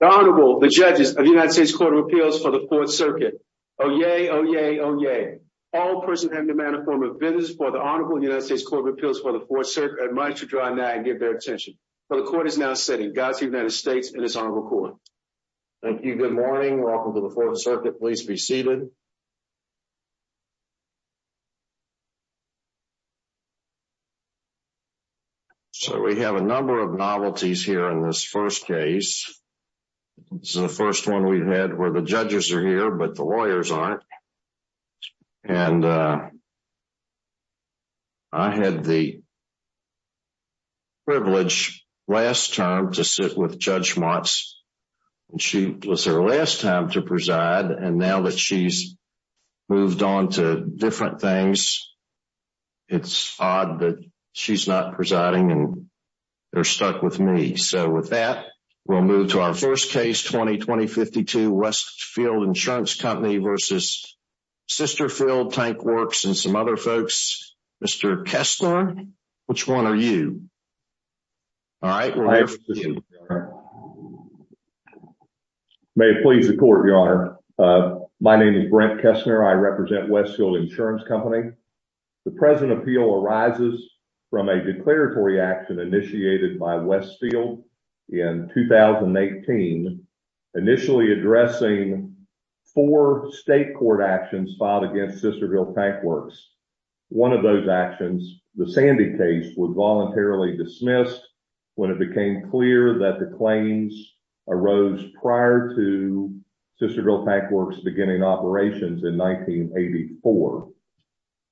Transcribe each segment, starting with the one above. The Honorable, the Judges of the United States Court of Appeals for the Fourth Circuit. Oyez, oyez, oyez. All persons having the manner and form of business for the Honorable of the United States Court of Appeals for the Fourth Circuit are admitted to draw now and give their attention. For the Court is now sitting. Godspeed to the United States and His Honorable Court. Thank you. Good morning. Welcome to the Fourth Circuit. Please be seated. So we have a number of novelties here in this first case. So the first one we've had where the judges are here, but the lawyers aren't. And I had the privilege last time to sit with Judge Motz, and she was there last time to preside. And now that she's moved on to different things, it's odd that she's not presiding and they're stuck with me. And so with that, we'll move to our first case, 2020-52, Westfield Insurance Company versus Sisterfield Tank Works and some other folks. Mr. Kessler, which one are you? All right. May it please the Court, Your Honor. My name is Brent Kessler. I represent Westfield Insurance Company. The present appeal arises from a declaratory action initiated by Westfield in 2018, initially addressing four state court actions filed against Sisterfield Tank Works. One of those actions, the Sandy case, was voluntarily dismissed when it became clear that the claims arose prior to Sisterfield Tank Works beginning operations in 1984.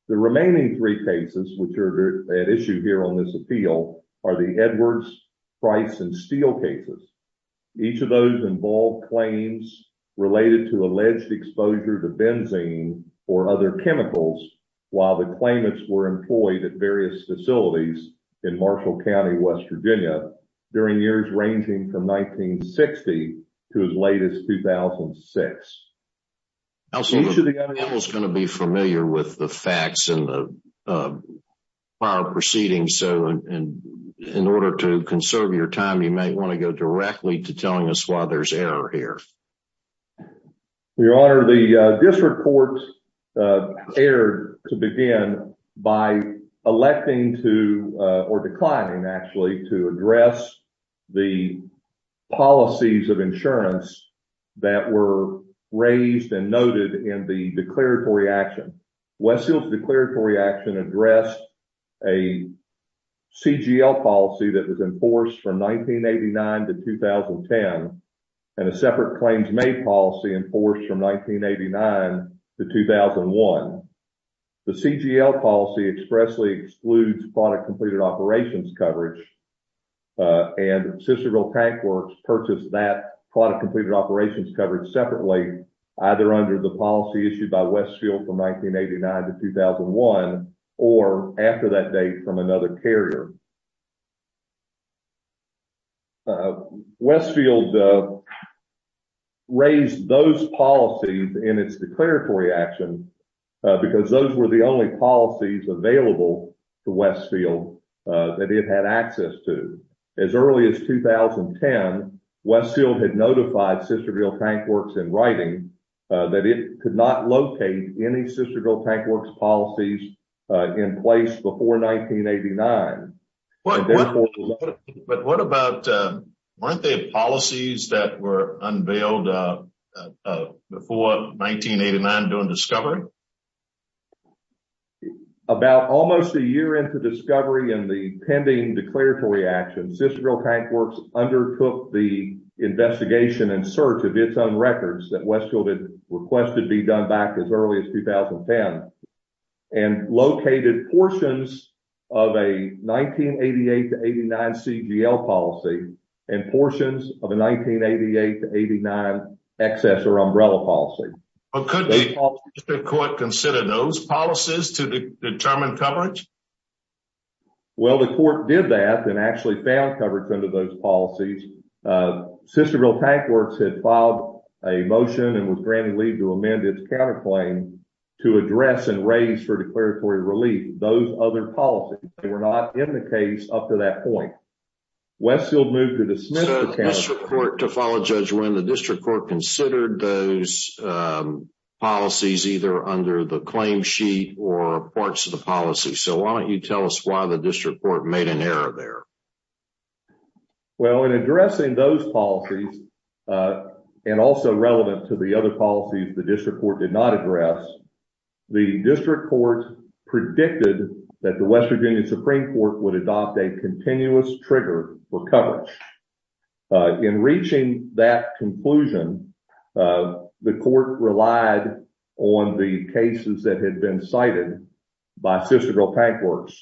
The remaining three cases, which are at issue here on this appeal, are the Edwards, Price, and Steele cases. Each of those involved claims related to alleged exposure to benzene or other chemicals while the claimants were employed at various facilities in Marshall County, West Virginia, during years ranging from 1960 to as late as 2006. Counsel, each of the other people is going to be familiar with the facts and the prior proceedings. So in order to conserve your time, you might want to go directly to telling us why there's error here. Your Honor, this report erred to begin by electing to, or declining actually, to address the policies of insurance that were raised and noted in the declaratory action. Westfield's declaratory action addressed a CGL policy that was enforced from 1989 to 2010 and a separate claims made policy enforced from 1989 to 2001. The CGL policy expressly excludes product-completed operations coverage, and Sisterfield Tank Works purchased that product-completed operations coverage separately, either under the policy issued by Westfield from 1989 to 2001, or after that date from another carrier. Westfield raised those policies in its declaratory action because those were the only policies available to Westfield that it had access to. As early as 2010, Westfield had notified Sisterfield Tank Works in writing that it could not locate any Sisterfield Tank Works policies in place before 1989. But what about, weren't there policies that were unveiled before 1989 during discovery? About almost a year into discovery and the pending declaratory action, Sisterfield Tank Works undertook the investigation and search of its own records that Westfield had requested be done back as early as 2010, and located portions of a 1988 to 89 CGL policy and portions of a 1988 to 89 excessor umbrella policy. Could the district court consider those policies to determine coverage? Well, the court did that and actually found coverage under those policies. Sisterfield Tank Works had filed a motion and was granted leave to amend its counterclaim to address and raise for declaratory relief those other policies. They were not in the case up to that point. So the district court, to follow Judge Wynn, the district court considered those policies either under the claim sheet or parts of the policy. So why don't you tell us why the district court made an error there? Well, in addressing those policies, and also relevant to the other policies the district court did not address, the district court predicted that the West Virginia Supreme Court would adopt a continuous trigger for coverage. In reaching that conclusion, the court relied on the cases that had been cited by Sisterfield Tank Works,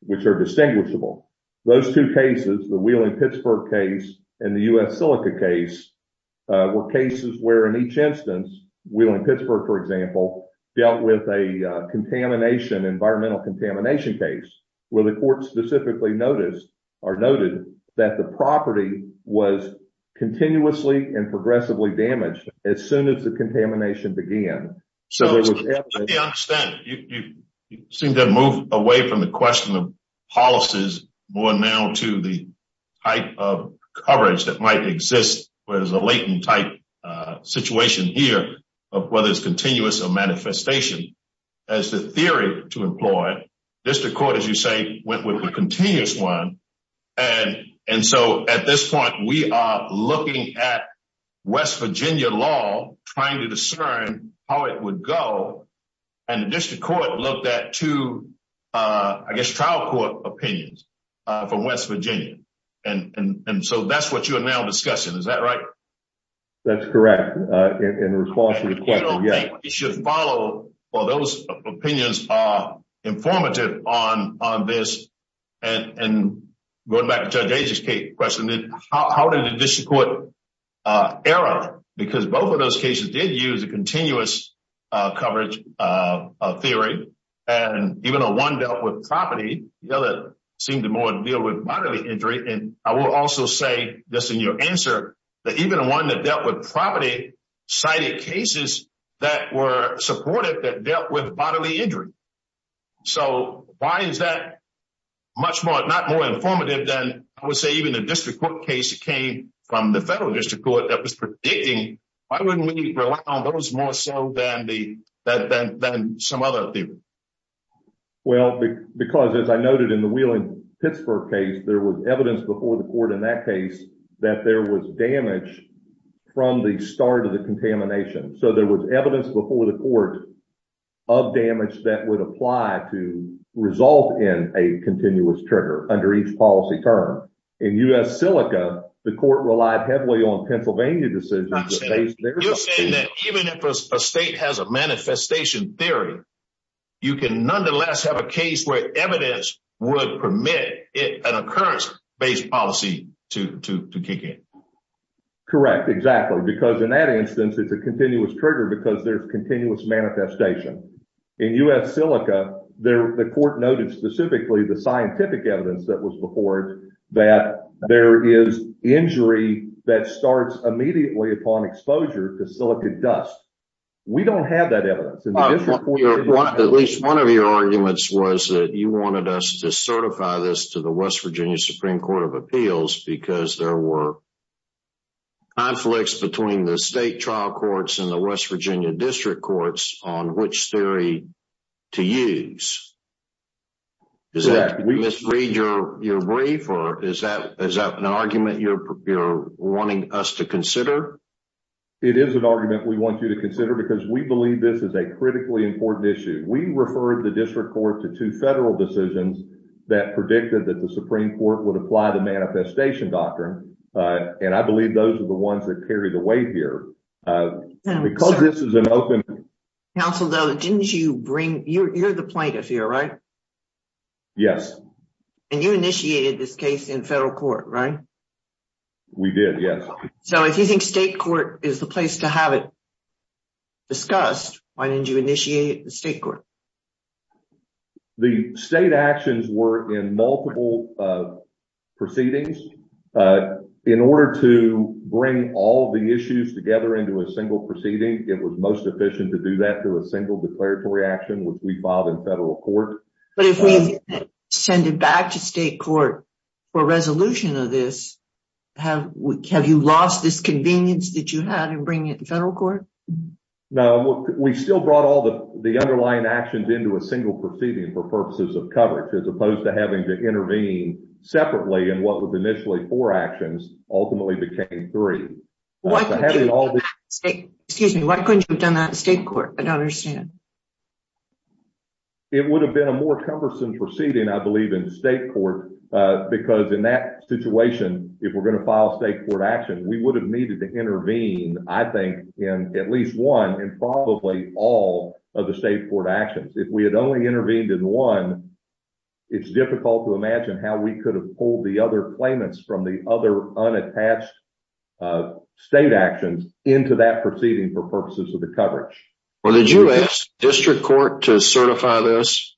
which are distinguishable. Those two cases, the Wheeling-Pittsburgh case and the U.S. Silica case, were cases where in each instance, Wheeling-Pittsburgh, for example, dealt with a contamination, environmental contamination case, where the court specifically noticed or noted that the property was continuously and progressively damaged as soon as the contamination began. Let me understand. You seem to have moved away from the question of policies more now to the type of coverage that might exist, where there's a latent type situation here of whether it's continuous or manifestation. As the theory to employ, district court, as you say, went with the continuous one. And so at this point, we are looking at West Virginia law, trying to discern how it would go. And the district court looked at two, I guess, trial court opinions from West Virginia. And so that's what you are now discussing. Is that right? That's correct. In response to the question, yes. I think we should follow, or those opinions are informative on this. And going back to Judge Ager's question, how did the district court error? Because both of those cases did use a continuous coverage theory. And even though one dealt with property, the other seemed to more deal with bodily injury. And I will also say this in your answer, that even the one that dealt with property cited cases that were supported that dealt with bodily injury. So why is that much more, not more informative than, I would say, even the district court case came from the federal district court that was predicting. Why wouldn't we rely on those more so than some other theory? Well, because as I noted in the Wheeling-Pittsburgh case, there was evidence before the court in that case that there was damage from the start of the contamination. So there was evidence before the court of damage that would apply to result in a continuous trigger under each policy term. In U.S. Silica, the court relied heavily on Pennsylvania decisions. You're saying that even if a state has a manifestation theory, you can nonetheless have a case where evidence would permit an occurrence-based policy to kick in. Correct. Exactly. Because in that instance, it's a continuous trigger because there's continuous manifestation. In U.S. Silica, the court noted specifically the scientific evidence that was before it that there is injury that starts immediately upon exposure to silica dust. We don't have that evidence. At least one of your arguments was that you wanted us to certify this to the West Virginia Supreme Court of Appeals because there were conflicts between the state trial courts and the West Virginia district courts on which theory to use. Is that an argument you're wanting us to consider? It is an argument we want you to consider because we believe this is a critically important issue. We referred the district court to two federal decisions that predicted that the Supreme Court would apply the manifestation doctrine. I believe those are the ones that carry the weight here. Counsel, you're the plaintiff here, right? Yes. You initiated this case in federal court, right? We did, yes. If you think state court is the place to have it discussed, why didn't you initiate it in state court? The state actions were in multiple proceedings. In order to bring all the issues together into a single proceeding, it was most efficient to do that through a single declaratory action, which we filed in federal court. But if we send it back to state court for resolution of this, have you lost this convenience that you had in bringing it to federal court? No, we still brought all the underlying actions into a single proceeding for purposes of coverage, as opposed to having to intervene separately in what was initially four actions ultimately became three. Excuse me, why couldn't you have done that in state court? I don't understand. It would have been a more cumbersome proceeding, I believe, in state court, because in that situation, if we're going to file state court action, we would have needed to intervene, I think, in at least one and probably all of the state court actions. If we had only intervened in one, it's difficult to imagine how we could have pulled the other claimants from the other unattached state actions into that proceeding for purposes of the coverage. Well, did you ask district court to certify this?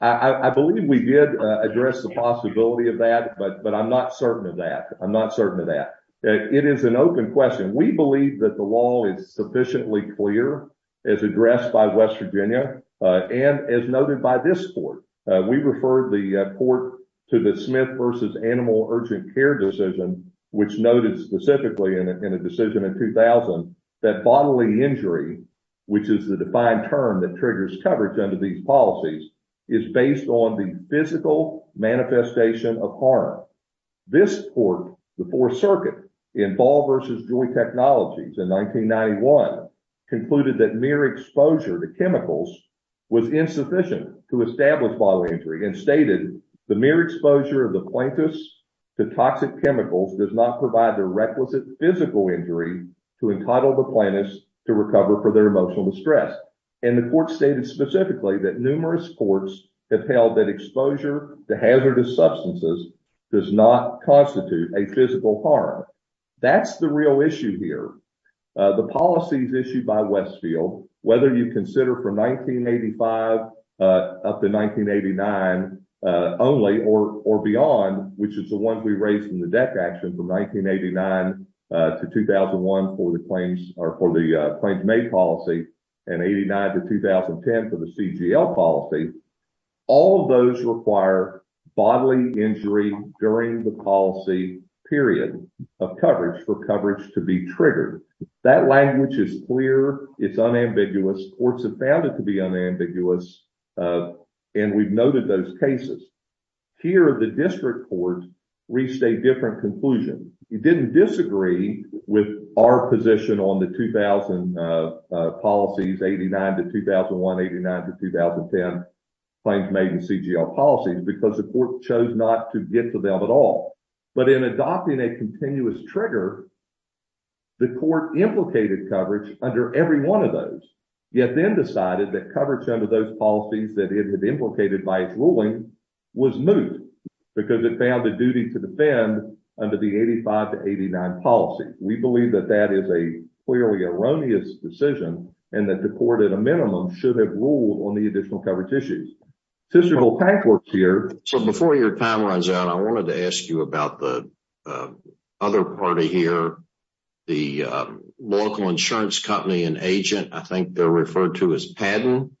I believe we did address the possibility of that, but I'm not certain of that. I'm not certain of that. It is an open question. We believe that the law is sufficiently clear as addressed by West Virginia and as noted by this court. We referred the court to the Smith v. Animal Urgent Care decision, which noted specifically in a decision in 2000 that bodily injury, which is the defined term that triggers coverage under these policies, is based on the physical manifestation of harm. This court, the Fourth Circuit, in Ball v. Joy Technologies in 1991, concluded that mere exposure to chemicals was insufficient to establish bodily injury and stated the mere exposure of the plaintiffs to toxic chemicals does not provide the requisite physical injury to entitle the plaintiffs to recover for their emotional distress. And the court stated specifically that numerous courts have held that exposure to hazardous substances does not constitute a physical harm. That's the real issue here. The policies issued by Westfield, whether you consider from 1985 up to 1989 only or beyond, which is the one we raised in the DEC action from 1989 to 2001 for the claims or for the claims made policy and 89 to 2010 for the CGL policy, all of those require bodily injury during the policy period of coverage for coverage to be triggered. That language is clear. It's unambiguous. Courts have found it to be unambiguous, and we've noted those cases. Here, the district court reached a different conclusion. It didn't disagree with our position on the 2000 policies, 89 to 2001, 89 to 2010 claims made in CGL policies because the court chose not to get to them at all. But in adopting a continuous trigger, the court implicated coverage under every one of those, yet then decided that coverage under those policies that it had implicated by its ruling was moot because it found the duty to defend under the 85 to 89 policy. We believe that that is a clearly erroneous decision and that the court at a minimum should have ruled on the additional coverage issues. Before your time runs out, I wanted to ask you about the other party here, the local insurance company and agent. I think they're referred to as Padden.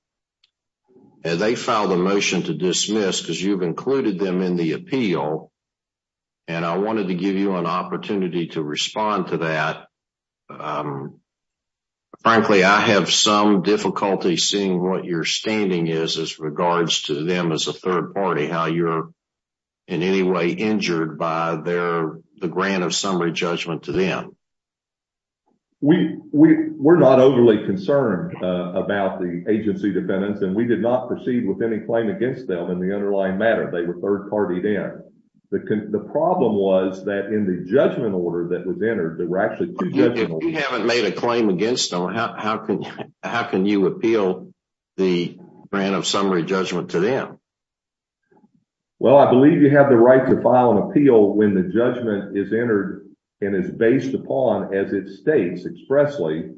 They filed a motion to dismiss because you've included them in the appeal. And I wanted to give you an opportunity to respond to that. Frankly, I have some difficulty seeing what your standing is as regards to them as a third party, how you're in any way injured by the grant of summary judgment to them. We were not overly concerned about the agency defendants, and we did not proceed with any claim against them in the underlying matter. They were third party there. The problem was that in the judgment order that was entered, there were actually two judgments. If you haven't made a claim against them, how can you appeal the grant of summary judgment to them? Well, I believe you have the right to file an appeal when the judgment is entered and is based upon, as it states expressly,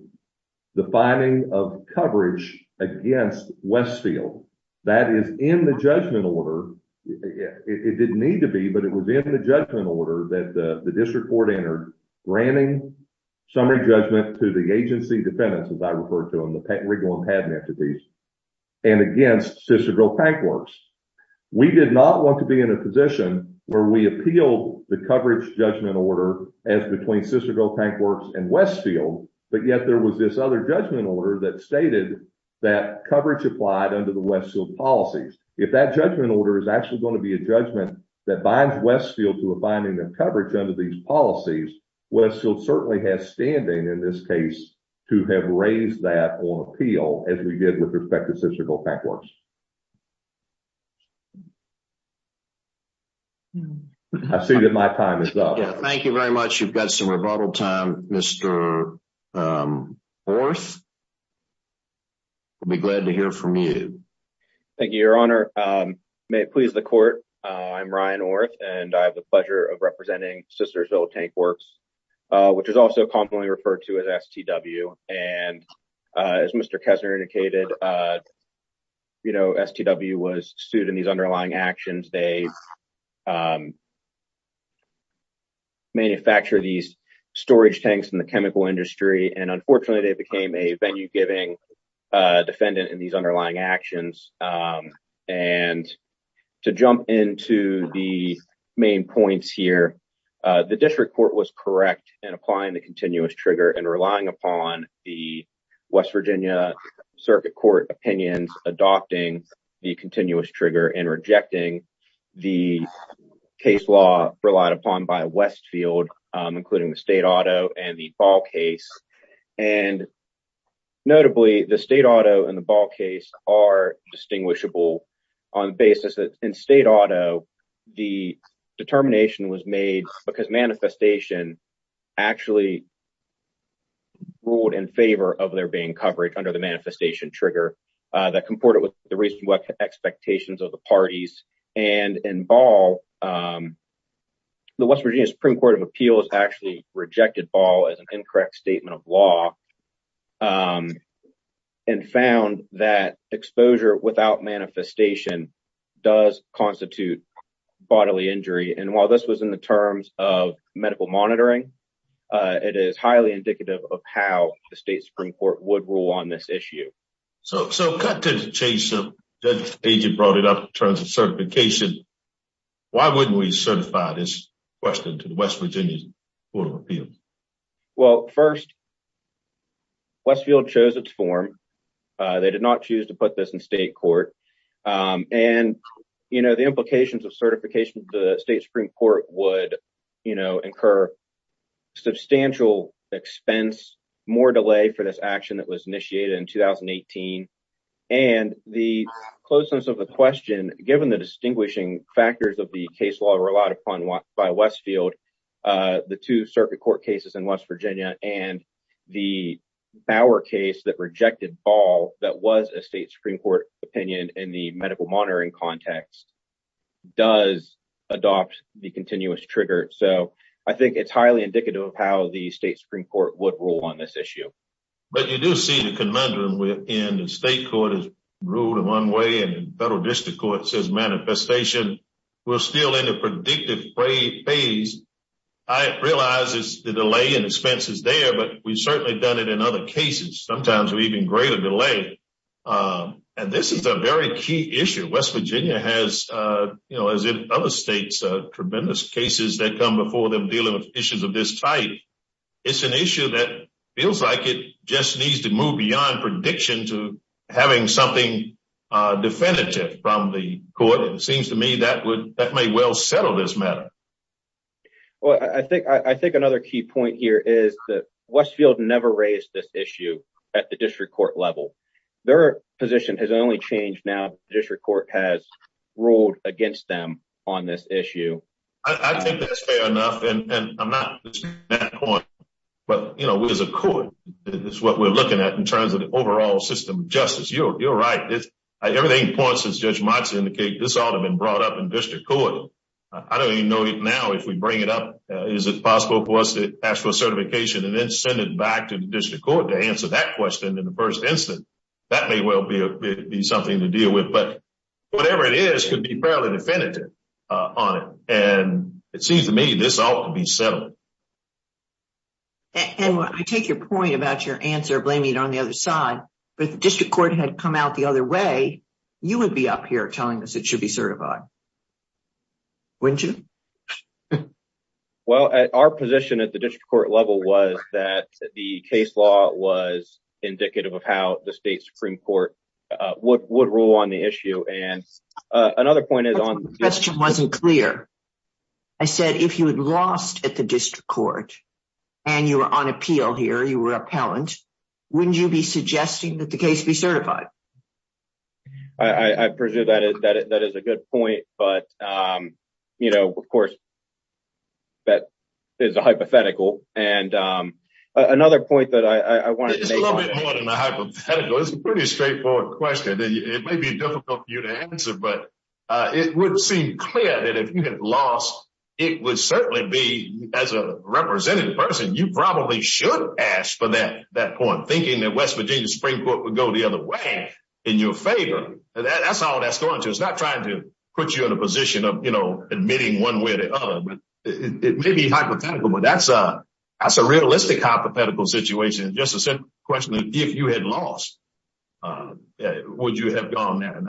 the finding of coverage against Westfield. That is in the judgment order. It didn't need to be, but it was in the judgment order that the district court entered, granting summary judgment to the agency defendants, as I refer to them, the Riggle and Padden entities, and against Cicero Tank Works. We did not want to be in a position where we appeal the coverage judgment order as between Cicero Tank Works and Westfield, but yet there was this other judgment order that stated that coverage applied under the Westfield policies. If that judgment order is actually going to be a judgment that binds Westfield to a finding of coverage under these policies, Westfield certainly has standing in this case to have raised that on appeal as we did with respect to Cicero Tank Works. I see that my time is up. Thank you very much. You've got some rebuttal time. Mr. Orth, we'll be glad to hear from you. Thank you, Your Honor. May it please the court, I'm Ryan Orth, and I have the pleasure of representing Cicero Tank Works, which is also commonly referred to as STW. As Mr. Kessler indicated, STW was sued in these underlying actions. They manufacture these storage tanks in the chemical industry, and unfortunately, they became a venue-giving defendant in these underlying actions. To jump into the main points here, the district court was correct in applying the continuous trigger and relying upon the West Virginia Circuit Court opinions adopting the continuous trigger and rejecting the case law relied upon by Westfield, including the state auto and the ball case. Notably, the state auto and the ball case are distinguishable on the basis that in state auto, the determination was made because manifestation actually ruled in favor of there being coverage under the manifestation trigger that comported with the reasonable expectations of the parties. In ball, the West Virginia Supreme Court of Appeals actually rejected ball as an incorrect statement of law and found that exposure without manifestation does constitute bodily injury. While this was in the terms of medical monitoring, it is highly indicative of how the state Supreme Court would rule on this issue. So, cut to the chase, Judge Stajic brought it up in terms of certification. Why wouldn't we certify this question to the West Virginia Court of Appeals? Well, first, Westfield chose its form. They did not choose to put this in state court. And, you know, the implications of certification to the state Supreme Court would, you know, incur substantial expense, more delay for this action that was initiated in 2018. And the closeness of the question, given the distinguishing factors of the case law relied upon by Westfield, the two circuit court cases in West Virginia and the Bauer case that rejected ball that was a state Supreme Court opinion in the medical monitoring context does adopt the continuous trigger. So, I think it's highly indicative of how the state Supreme Court would rule on this issue. But you do see the conundrum in the state court has ruled in one way and the federal district court says manifestation. We're still in a predictive phase. I realize the delay and expense is there, but we've certainly done it in other cases. Sometimes we even greater delay. And this is a very key issue. West Virginia has, you know, as in other states, tremendous cases that come before them dealing with issues of this type. It's an issue that feels like it just needs to move beyond prediction to having something definitive from the court. It seems to me that would that may well settle this matter. Well, I think I think another key point here is that Westfield never raised this issue at the district court level. Their position has only changed now district court has ruled against them on this issue. I think that's fair enough and I'm not. I don't even know it now if we bring it up. Is it possible for us to ask for certification and then send it back to the district court to answer that question in the 1st instance. That may well be something to deal with, but whatever it is could be fairly definitive on it. And it seems to me this ought to be settled. And I take your point about your answer blaming it on the other side, but the district court had come out the other way. You would be up here telling us it should be certified. Wouldn't you? Well, our position at the district court level was that the case law was indicative of how the state Supreme Court would rule on the issue. And another point is on the question wasn't clear. I said, if you had lost at the district court, and you were on appeal here, you were appellant. Wouldn't you be suggesting that the case be certified. I presume that is a good point. But, you know, of course, that is a hypothetical. And another point that I want to make. It's a pretty straightforward question. It may be difficult for you to answer, but it would seem clear that if you had lost, it would certainly be as a representative person. You probably should ask for that point, thinking that West Virginia Supreme Court would go the other way in your favor. That's all that's going to is not trying to put you in a position of, you know, admitting one way or the other. It may be hypothetical, but that's a realistic hypothetical situation. Just a simple question. If you had lost, would you have gone there?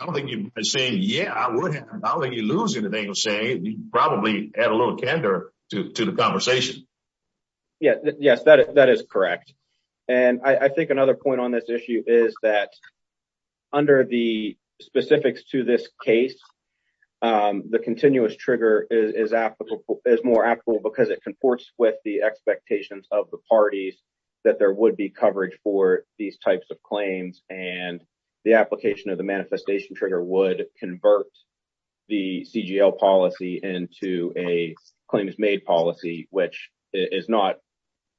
I don't think you're saying, yeah, I wouldn't. I don't think you're losing anything you're saying. You probably add a little candor to the conversation. Yes, that is correct. And I think another point on this issue is that under the specifics to this case, the continuous trigger is applicable is more applicable because it conforts with the expectations of the parties that there would be coverage for these types of claims. And the application of the manifestation trigger would convert the CGL policy into a claims made policy, which is not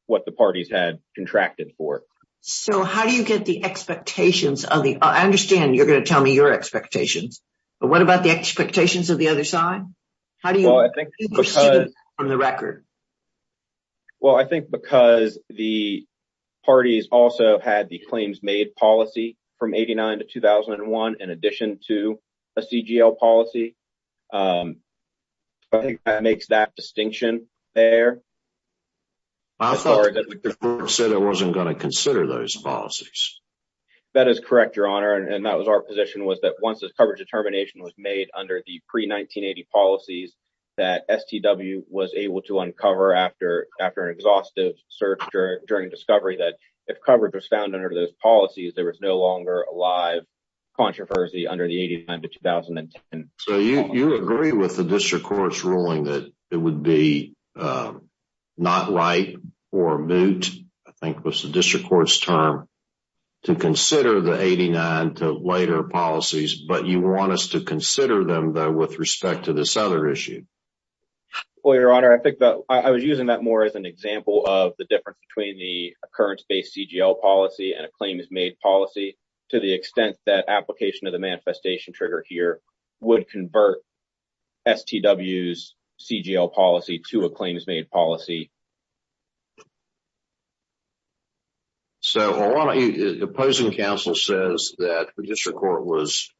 what the parties had contracted for. So how do you get the expectations? I understand you're going to tell me your expectations, but what about the expectations of the other side? Well, I think because the parties also had the claims made policy from 89 to 2001, in addition to a CGL policy. I think that makes that distinction there. I thought I said I wasn't going to consider those policies. That is correct, Your Honor. And that was our position was that once the coverage determination was made under the pre-1980 policies, that STW was able to uncover after an exhaustive search during discovery that if coverage was found under those policies, there was no longer a live controversy under the 89 to 2010. So you agree with the district court's ruling that it would be not right or moot, I think was the district court's term, to consider the 89 to later policies, but you want us to consider them with respect to this other issue. Well, Your Honor, I think that I was using that more as an example of the difference between the occurrence based CGL policy and a claims made policy to the extent that application of the manifestation trigger here would convert STW's CGL policy to a claims made policy. So the opposing counsel says that the district court was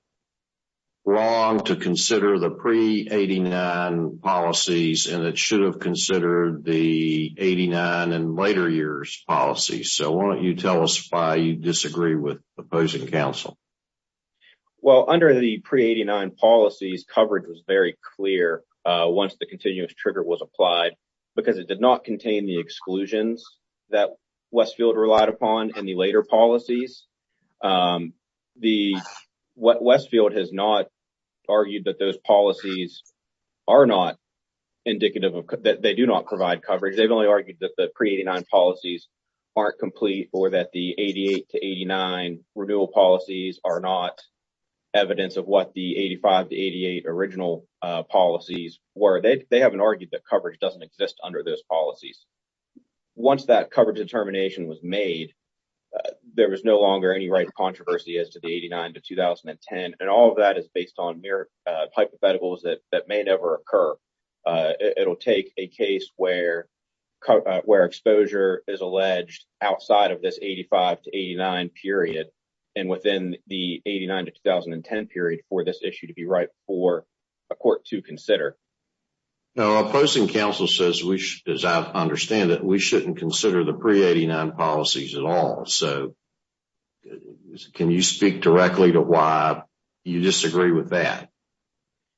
wrong to consider the pre-89 policies and it should have considered the 89 and later years policies. So why don't you tell us why you disagree with opposing counsel? Well, under the pre-89 policies, coverage was very clear once the continuous trigger was applied because it did not contain the exclusions that Westfield relied upon in the later policies. Westfield has not argued that those policies are not indicative that they do not provide coverage. They've only argued that the pre-89 policies aren't complete or that the 88 to 89 renewal policies are not evidence of what the 85 to 88 original policies were. They haven't argued that coverage doesn't exist under those policies. Once that coverage determination was made, there was no longer any right controversy as to the 89 to 2010 and all of that is based on mere hypotheticals that may never occur. It'll take a case where exposure is alleged outside of this 85 to 89 period and within the 89 to 2010 period for this issue to be right for a court to consider. Now, opposing counsel says, as I understand it, we shouldn't consider the pre-89 policies at all. So can you speak directly to why you disagree with that?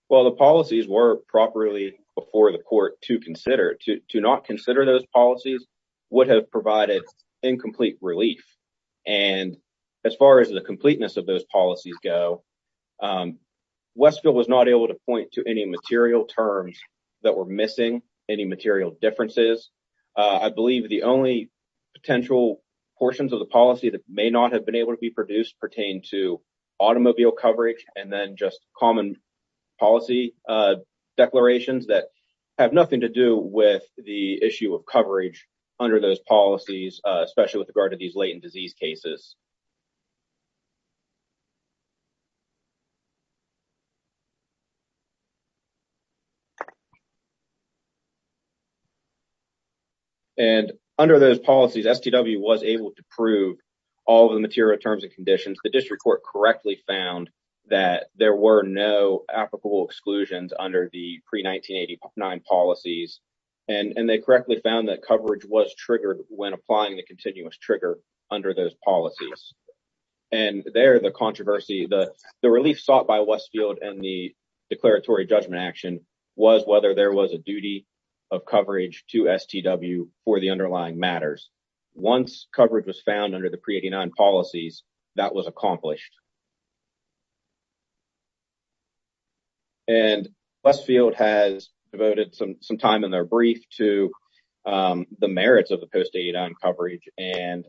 Well, the policies were properly before the court to consider. To not consider those policies would have provided incomplete relief. And as far as the completeness of those policies go, Westfield was not able to point to any material terms that were missing, any material differences. I believe the only potential portions of the policy that may not have been able to be produced pertain to automobile coverage and then just common policy declarations that have nothing to do with the issue of coverage under those policies, especially with regard to these latent disease cases. And under those policies, STW was able to prove all of the material terms and conditions. The district court correctly found that there were no applicable exclusions under the pre-1989 policies. And they correctly found that coverage was triggered when applying the continuous trigger under those policies. And there, the controversy, the relief sought by Westfield and the declaratory judgment action was whether there was a duty of coverage to STW for the underlying matters. Once coverage was found under the pre-89 policies, that was accomplished. And Westfield has devoted some time in their brief to the merits of the post-89 coverage. And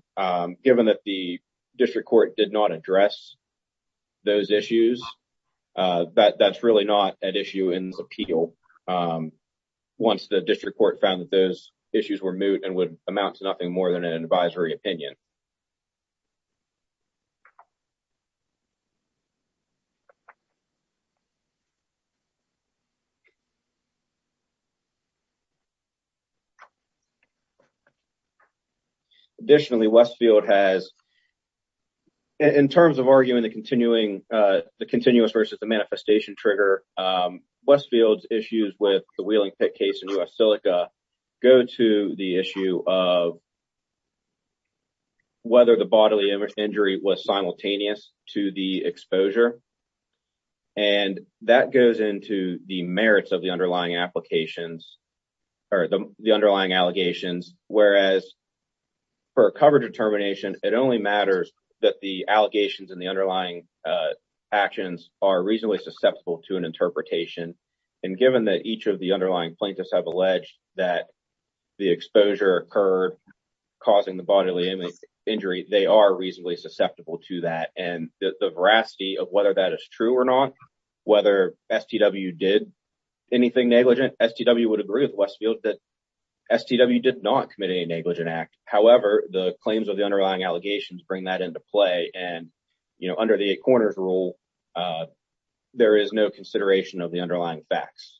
given that the district court did not address those issues, that's really not an issue in the appeal. Once the district court found that those issues were moot and would amount to nothing more than an advisory opinion. Additionally, Westfield has, in terms of arguing the continuing, the continuous versus the manifestation trigger, Westfield's issues with the Wheeling pit case in US Silica go to the issue of whether the bodily injury was simultaneous to the exposure. And that goes into the merits of the underlying applications or the underlying allegations. Whereas for a coverage determination, it only matters that the allegations and the underlying actions are reasonably susceptible to an interpretation. And given that each of the underlying plaintiffs have alleged that the exposure occurred, causing the bodily injury, they are reasonably susceptible to that. And the veracity of whether that is true or not, whether STW did anything negligent, STW would agree with Westfield that STW did not commit a negligent act. However, the claims of the underlying allegations bring that into play. And, you know, under the eight corners rule, there is no consideration of the underlying facts.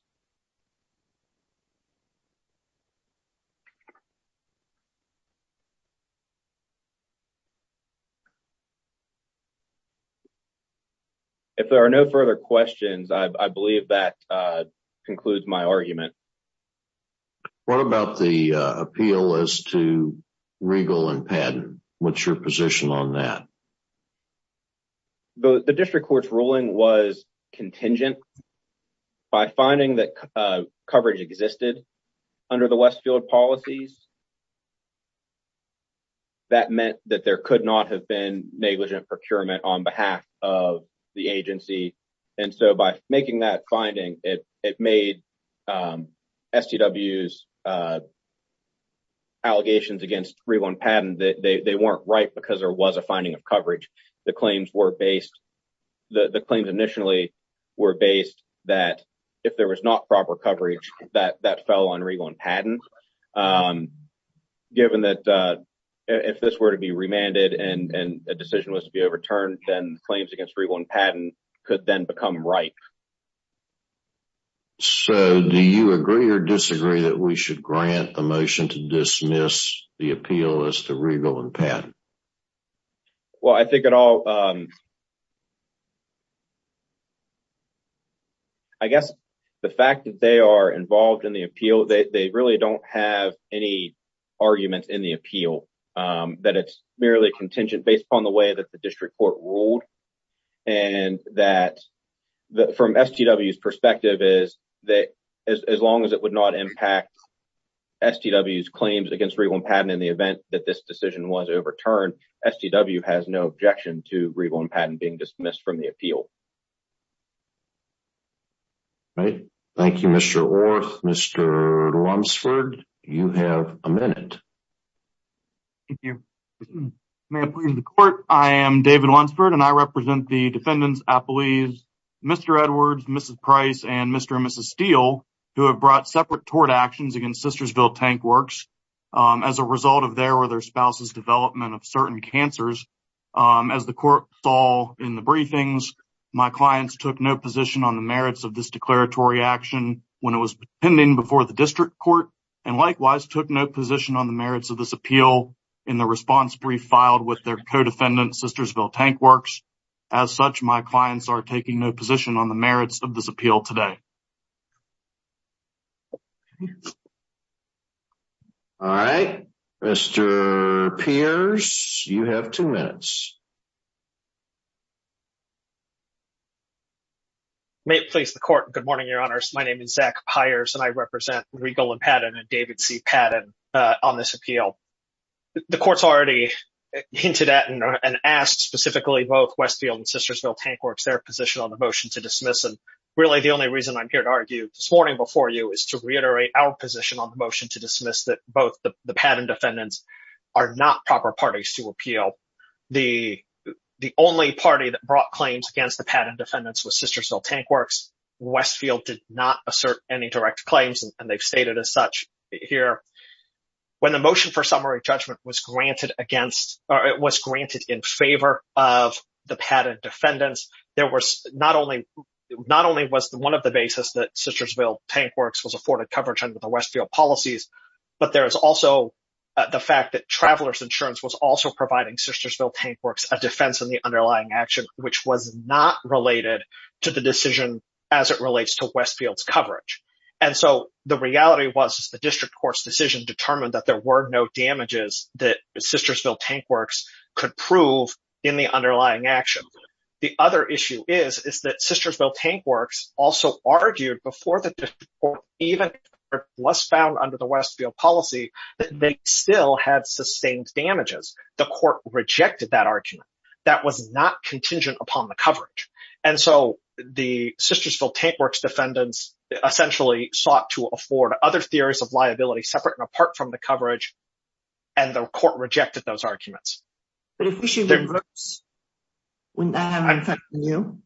If there are no further questions, I believe that concludes my argument. What about the appeal as to regal and patent? What's your position on that? The district court's ruling was contingent. By finding that coverage existed under the Westfield policies, that meant that there could not have been negligent procurement on behalf of the agency. And so by making that finding, it made STW's allegations against regal and patent, they weren't right because there was a finding of coverage. The claims initially were based that if there was not proper coverage, that fell on regal and patent. Given that if this were to be remanded and a decision was to be overturned, then claims against regal and patent could then become ripe. So do you agree or disagree that we should grant the motion to dismiss the appeal as to regal and patent? Well, I think it all. I guess the fact that they are involved in the appeal, they really don't have any arguments in the appeal that it's merely contingent based upon the way that the district court ruled. And that from STW's perspective is that as long as it would not impact STW's claims against regal and patent in the event that this decision was overturned, STW has no objection to regal and patent being dismissed from the appeal. Thank you, Mr. Orth. Mr. Lunsford, you have a minute. Thank you. May it please the court, I am David Lunsford and I represent the defendants, I believe, Mr. Edwards, Mrs. Price, and Mr. and Mrs. Steele, who have brought separate tort actions against Sistersville Tank Works. As a result of their or their spouse's development of certain cancers, as the court saw in the briefings, my clients took no position on the merits of this declaratory action when it was pending before the district court. And likewise, took no position on the merits of this appeal in the response brief filed with their co-defendant, Sistersville Tank Works. As such, my clients are taking no position on the merits of this appeal today. All right, Mr. Pierce, you have two minutes. May it please the court. Good morning, Your Honors. My name is Zach Piers and I represent regal and patent and David C. Patton on this appeal. The court's already hinted at and asked specifically both Westfield and Sistersville Tank Works their position on the motion to dismiss. And really, the only reason I'm here to argue this morning before you is to reiterate our position on the motion to dismiss that both the patent defendants are not proper parties to appeal. The only party that brought claims against the patent defendants was Sistersville Tank Works. Westfield did not assert any direct claims and they've stated as such here. When the motion for summary judgment was granted against or it was granted in favor of the patent defendants, there was not only not only was the one of the basis that Sistersville Tank Works was afforded coverage under the Westfield policies, but there is also the fact that Travelers Insurance was also providing Sistersville Tank Works a defense in the underlying action, which was not related to the decision as it relates to Westfield's coverage. And so the reality was the district court's decision determined that there were no damages that Sistersville Tank Works could prove in the underlying action. The other issue is, is that Sistersville Tank Works also argued before the district court even was found under the Westfield policy that they still had sustained damages. The court rejected that argument. That was not contingent upon the coverage. And so the Sistersville Tank Works defendants essentially sought to afford other theories of liability separate and apart from the coverage and the court rejected those arguments. But if we should reverse, wouldn't that have an effect on you?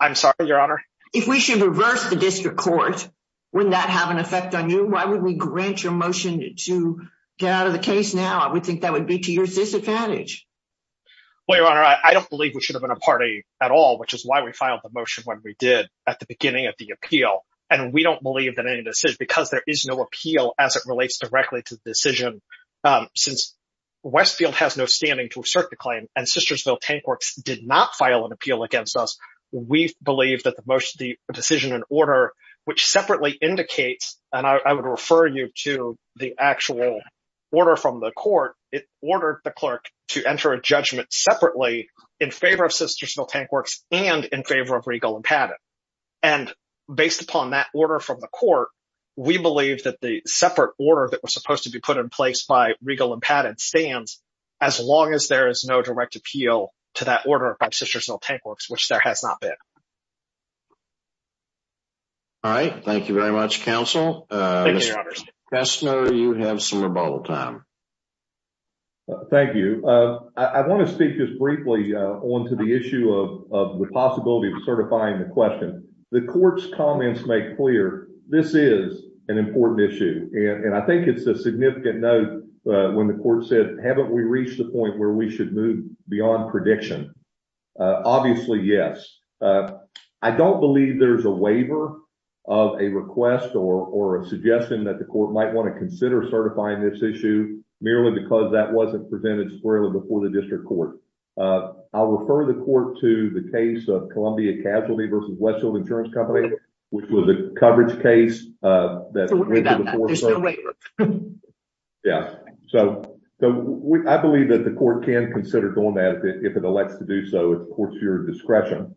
I'm sorry, Your Honor. If we should reverse the district court, wouldn't that have an effect on you? Why would we grant your motion to get out of the case now? I would think that would be to your disadvantage. Well, Your Honor, I don't believe we should have been a party at all, which is why we filed the motion when we did at the beginning of the appeal. And we don't believe that any of this is because there is no appeal as it relates directly to the decision. Since Westfield has no standing to assert the claim and Sistersville Tank Works did not file an appeal against us. We believe that the motion, the decision and order, which separately indicates, and I would refer you to the actual order from the court. It ordered the clerk to enter a judgment separately in favor of Sistersville Tank Works and in favor of Regal and Paddock. And based upon that order from the court, we believe that the separate order that was supposed to be put in place by Regal and Paddock stands as long as there is no direct appeal to that order by Sistersville Tank Works, which there has not been. All right. Thank you very much, counsel. Thank you, Your Honor. Mr. Kessner, you have some rebuttal time. Thank you. I want to speak just briefly on to the issue of the possibility of certifying the question. The court's comments make clear this is an important issue. And I think it's a significant note when the court said, haven't we reached the point where we should move beyond prediction? Obviously, yes. I don't believe there's a waiver of a request or a suggestion that the court might want to consider certifying this issue merely because that wasn't presented squarely before the district court. I'll refer the court to the case of Columbia Casualty v. Westfield Insurance Company, which was a coverage case. There's no waiver. Yes. So, I believe that the court can consider doing that if it elects to do so, of course, to your discretion.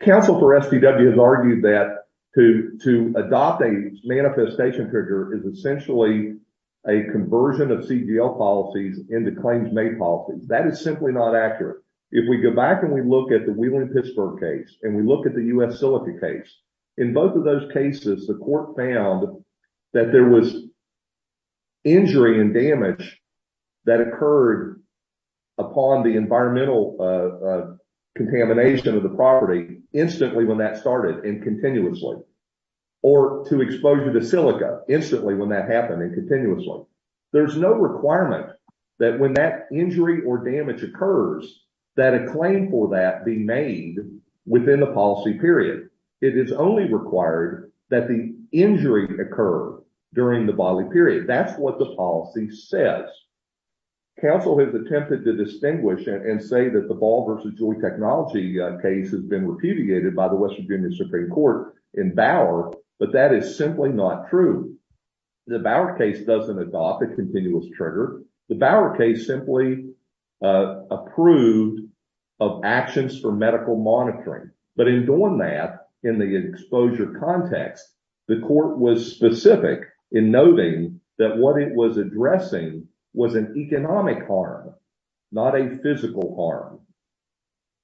Counsel for SDW has argued that to adopt a manifestation trigger is essentially a conversion of CDL policies into claims-made policies. That is simply not accurate. If we go back and we look at the Wheeling-Pittsburgh case and we look at the U.S. Silica case, in both of those cases, the court found that there was injury and damage that occurred upon the environmental contamination of the property instantly when that started and continuously, or to exposure to silica instantly when that happened and continuously. There's no requirement that when that injury or damage occurs, that a claim for that be made within the policy period. It is only required that the injury occur during the body period. That's what the policy says. Counsel has attempted to distinguish and say that the Ball v. Julie Technology case has been repudiated by the Western Virginia Supreme Court in Bauer, but that is simply not true. The Bauer case doesn't adopt a continuous trigger. The Bauer case simply approved of actions for medical monitoring. But in doing that, in the exposure context, the court was specific in noting that what it was addressing was an economic harm, not a physical harm.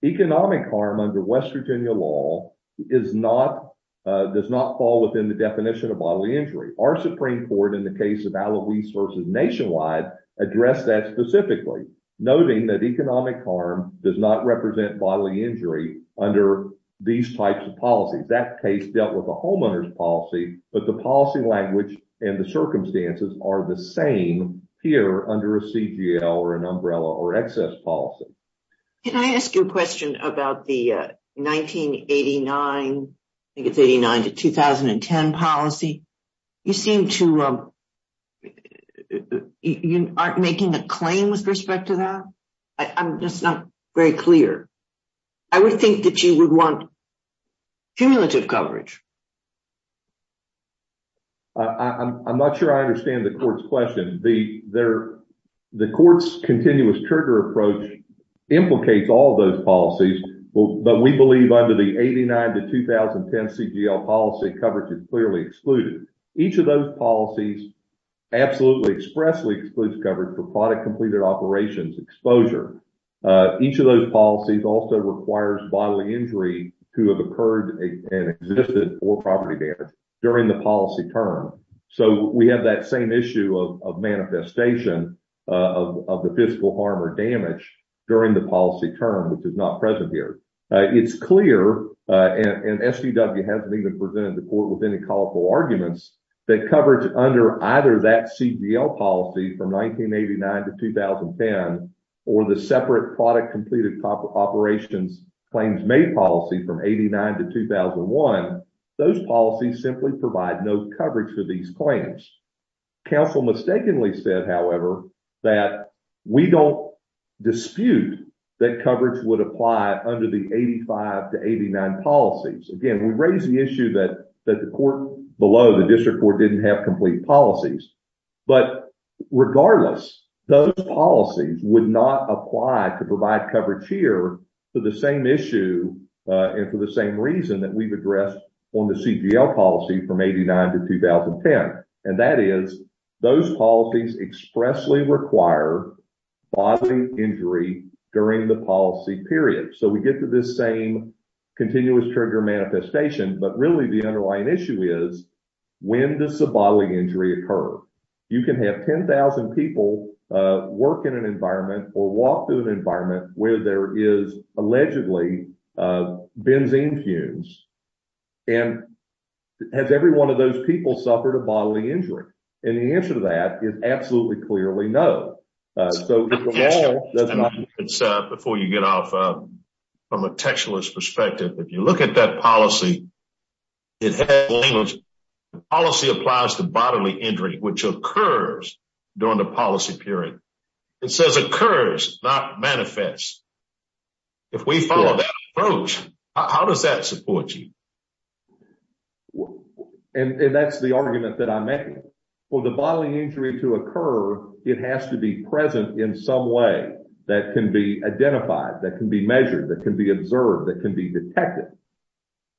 Economic harm under West Virginia law does not fall within the definition of bodily injury. Our Supreme Court, in the case of Alouise v. Nationwide, addressed that specifically, noting that economic harm does not represent bodily injury under these types of policies. That case dealt with a homeowner's policy, but the policy language and the circumstances are the same here under a CGL or an umbrella or excess policy. Can I ask you a question about the 1989 to 2010 policy? You seem to... You aren't making a claim with respect to that? I'm just not very clear. I would think that you would want cumulative coverage. I'm not sure I understand the court's question. The court's continuous trigger approach implicates all those policies, but we believe under the 1989 to 2010 CGL policy, coverage is clearly excluded. Each of those policies absolutely expressly excludes coverage for product-completed operations exposure. Each of those policies also requires bodily injury to have occurred and existed or property damage during the policy term. So, we have that same issue of manifestation of the physical harm or damage during the policy term, which is not present here. It's clear, and SDW hasn't even presented the court with any colorful arguments, that coverage under either that CGL policy from 1989 to 2010 or the separate product-completed operations claims-made policy from 89 to 2001, those policies simply provide no coverage for these claims. Counsel mistakenly said, however, that we don't dispute that coverage would apply under the 85 to 89 policies. Again, we raise the issue that the court below, the district court, didn't have complete policies. But regardless, those policies would not apply to provide coverage here for the same issue and for the same reason that we've addressed on the CGL policy from 89 to 2010. And that is, those policies expressly require bodily injury during the policy period. So, we get to this same continuous trigger manifestation, but really the underlying issue is, when does the bodily injury occur? You can have 10,000 people work in an environment or walk through an environment where there is allegedly benzene fumes. And has every one of those people suffered a bodily injury? And the answer to that is absolutely clearly no. Before you get off from a textualist perspective, if you look at that policy, it has language. Policy applies to bodily injury, which occurs during the policy period. It says occurs, not manifests. If we follow that approach, how does that support you? And that's the argument that I'm making. For the bodily injury to occur, it has to be present in some way that can be identified, that can be measured, that can be observed, that can be detected.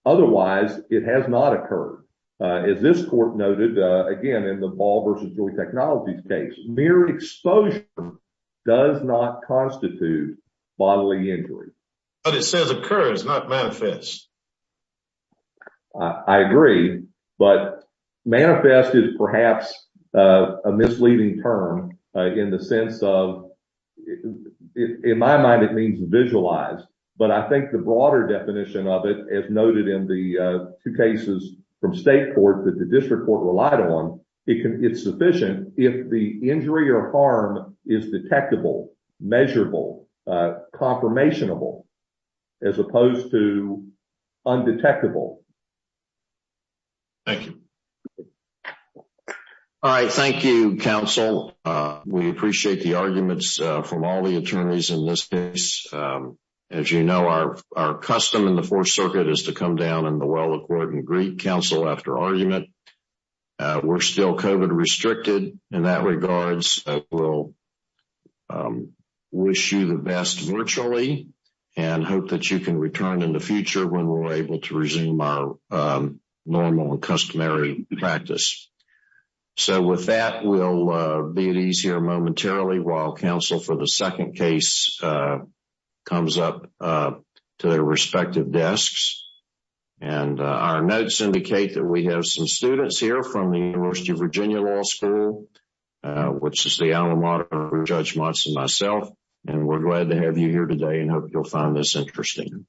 Otherwise, it has not occurred. As this court noted, again, in the Ball v. Joy Technologies case, mere exposure does not constitute bodily injury. But it says occurs, not manifests. I agree, but manifest is perhaps a misleading term in the sense of, in my mind, it means visualize. But I think the broader definition of it, as noted in the two cases from state court that the district court relied on, it's sufficient if the injury or harm is detectable, measurable, confirmationable, as opposed to undetectable. Thank you. All right, thank you, counsel. We appreciate the arguments from all the attorneys in this case. As you know, our custom in the Fourth Circuit is to come down in the well-recorded and greet counsel after argument. We're still COVID-restricted in that regards. We'll wish you the best virtually and hope that you can return in the future when we're able to resume our normal and customary practice. So with that, we'll be at ease here momentarily while counsel for the second case comes up to their respective desks. And our notes indicate that we have some students here from the University of Virginia Law School, which is the alma mater of Judge Monson and myself. And we're glad to have you here today and hope you'll find this interesting.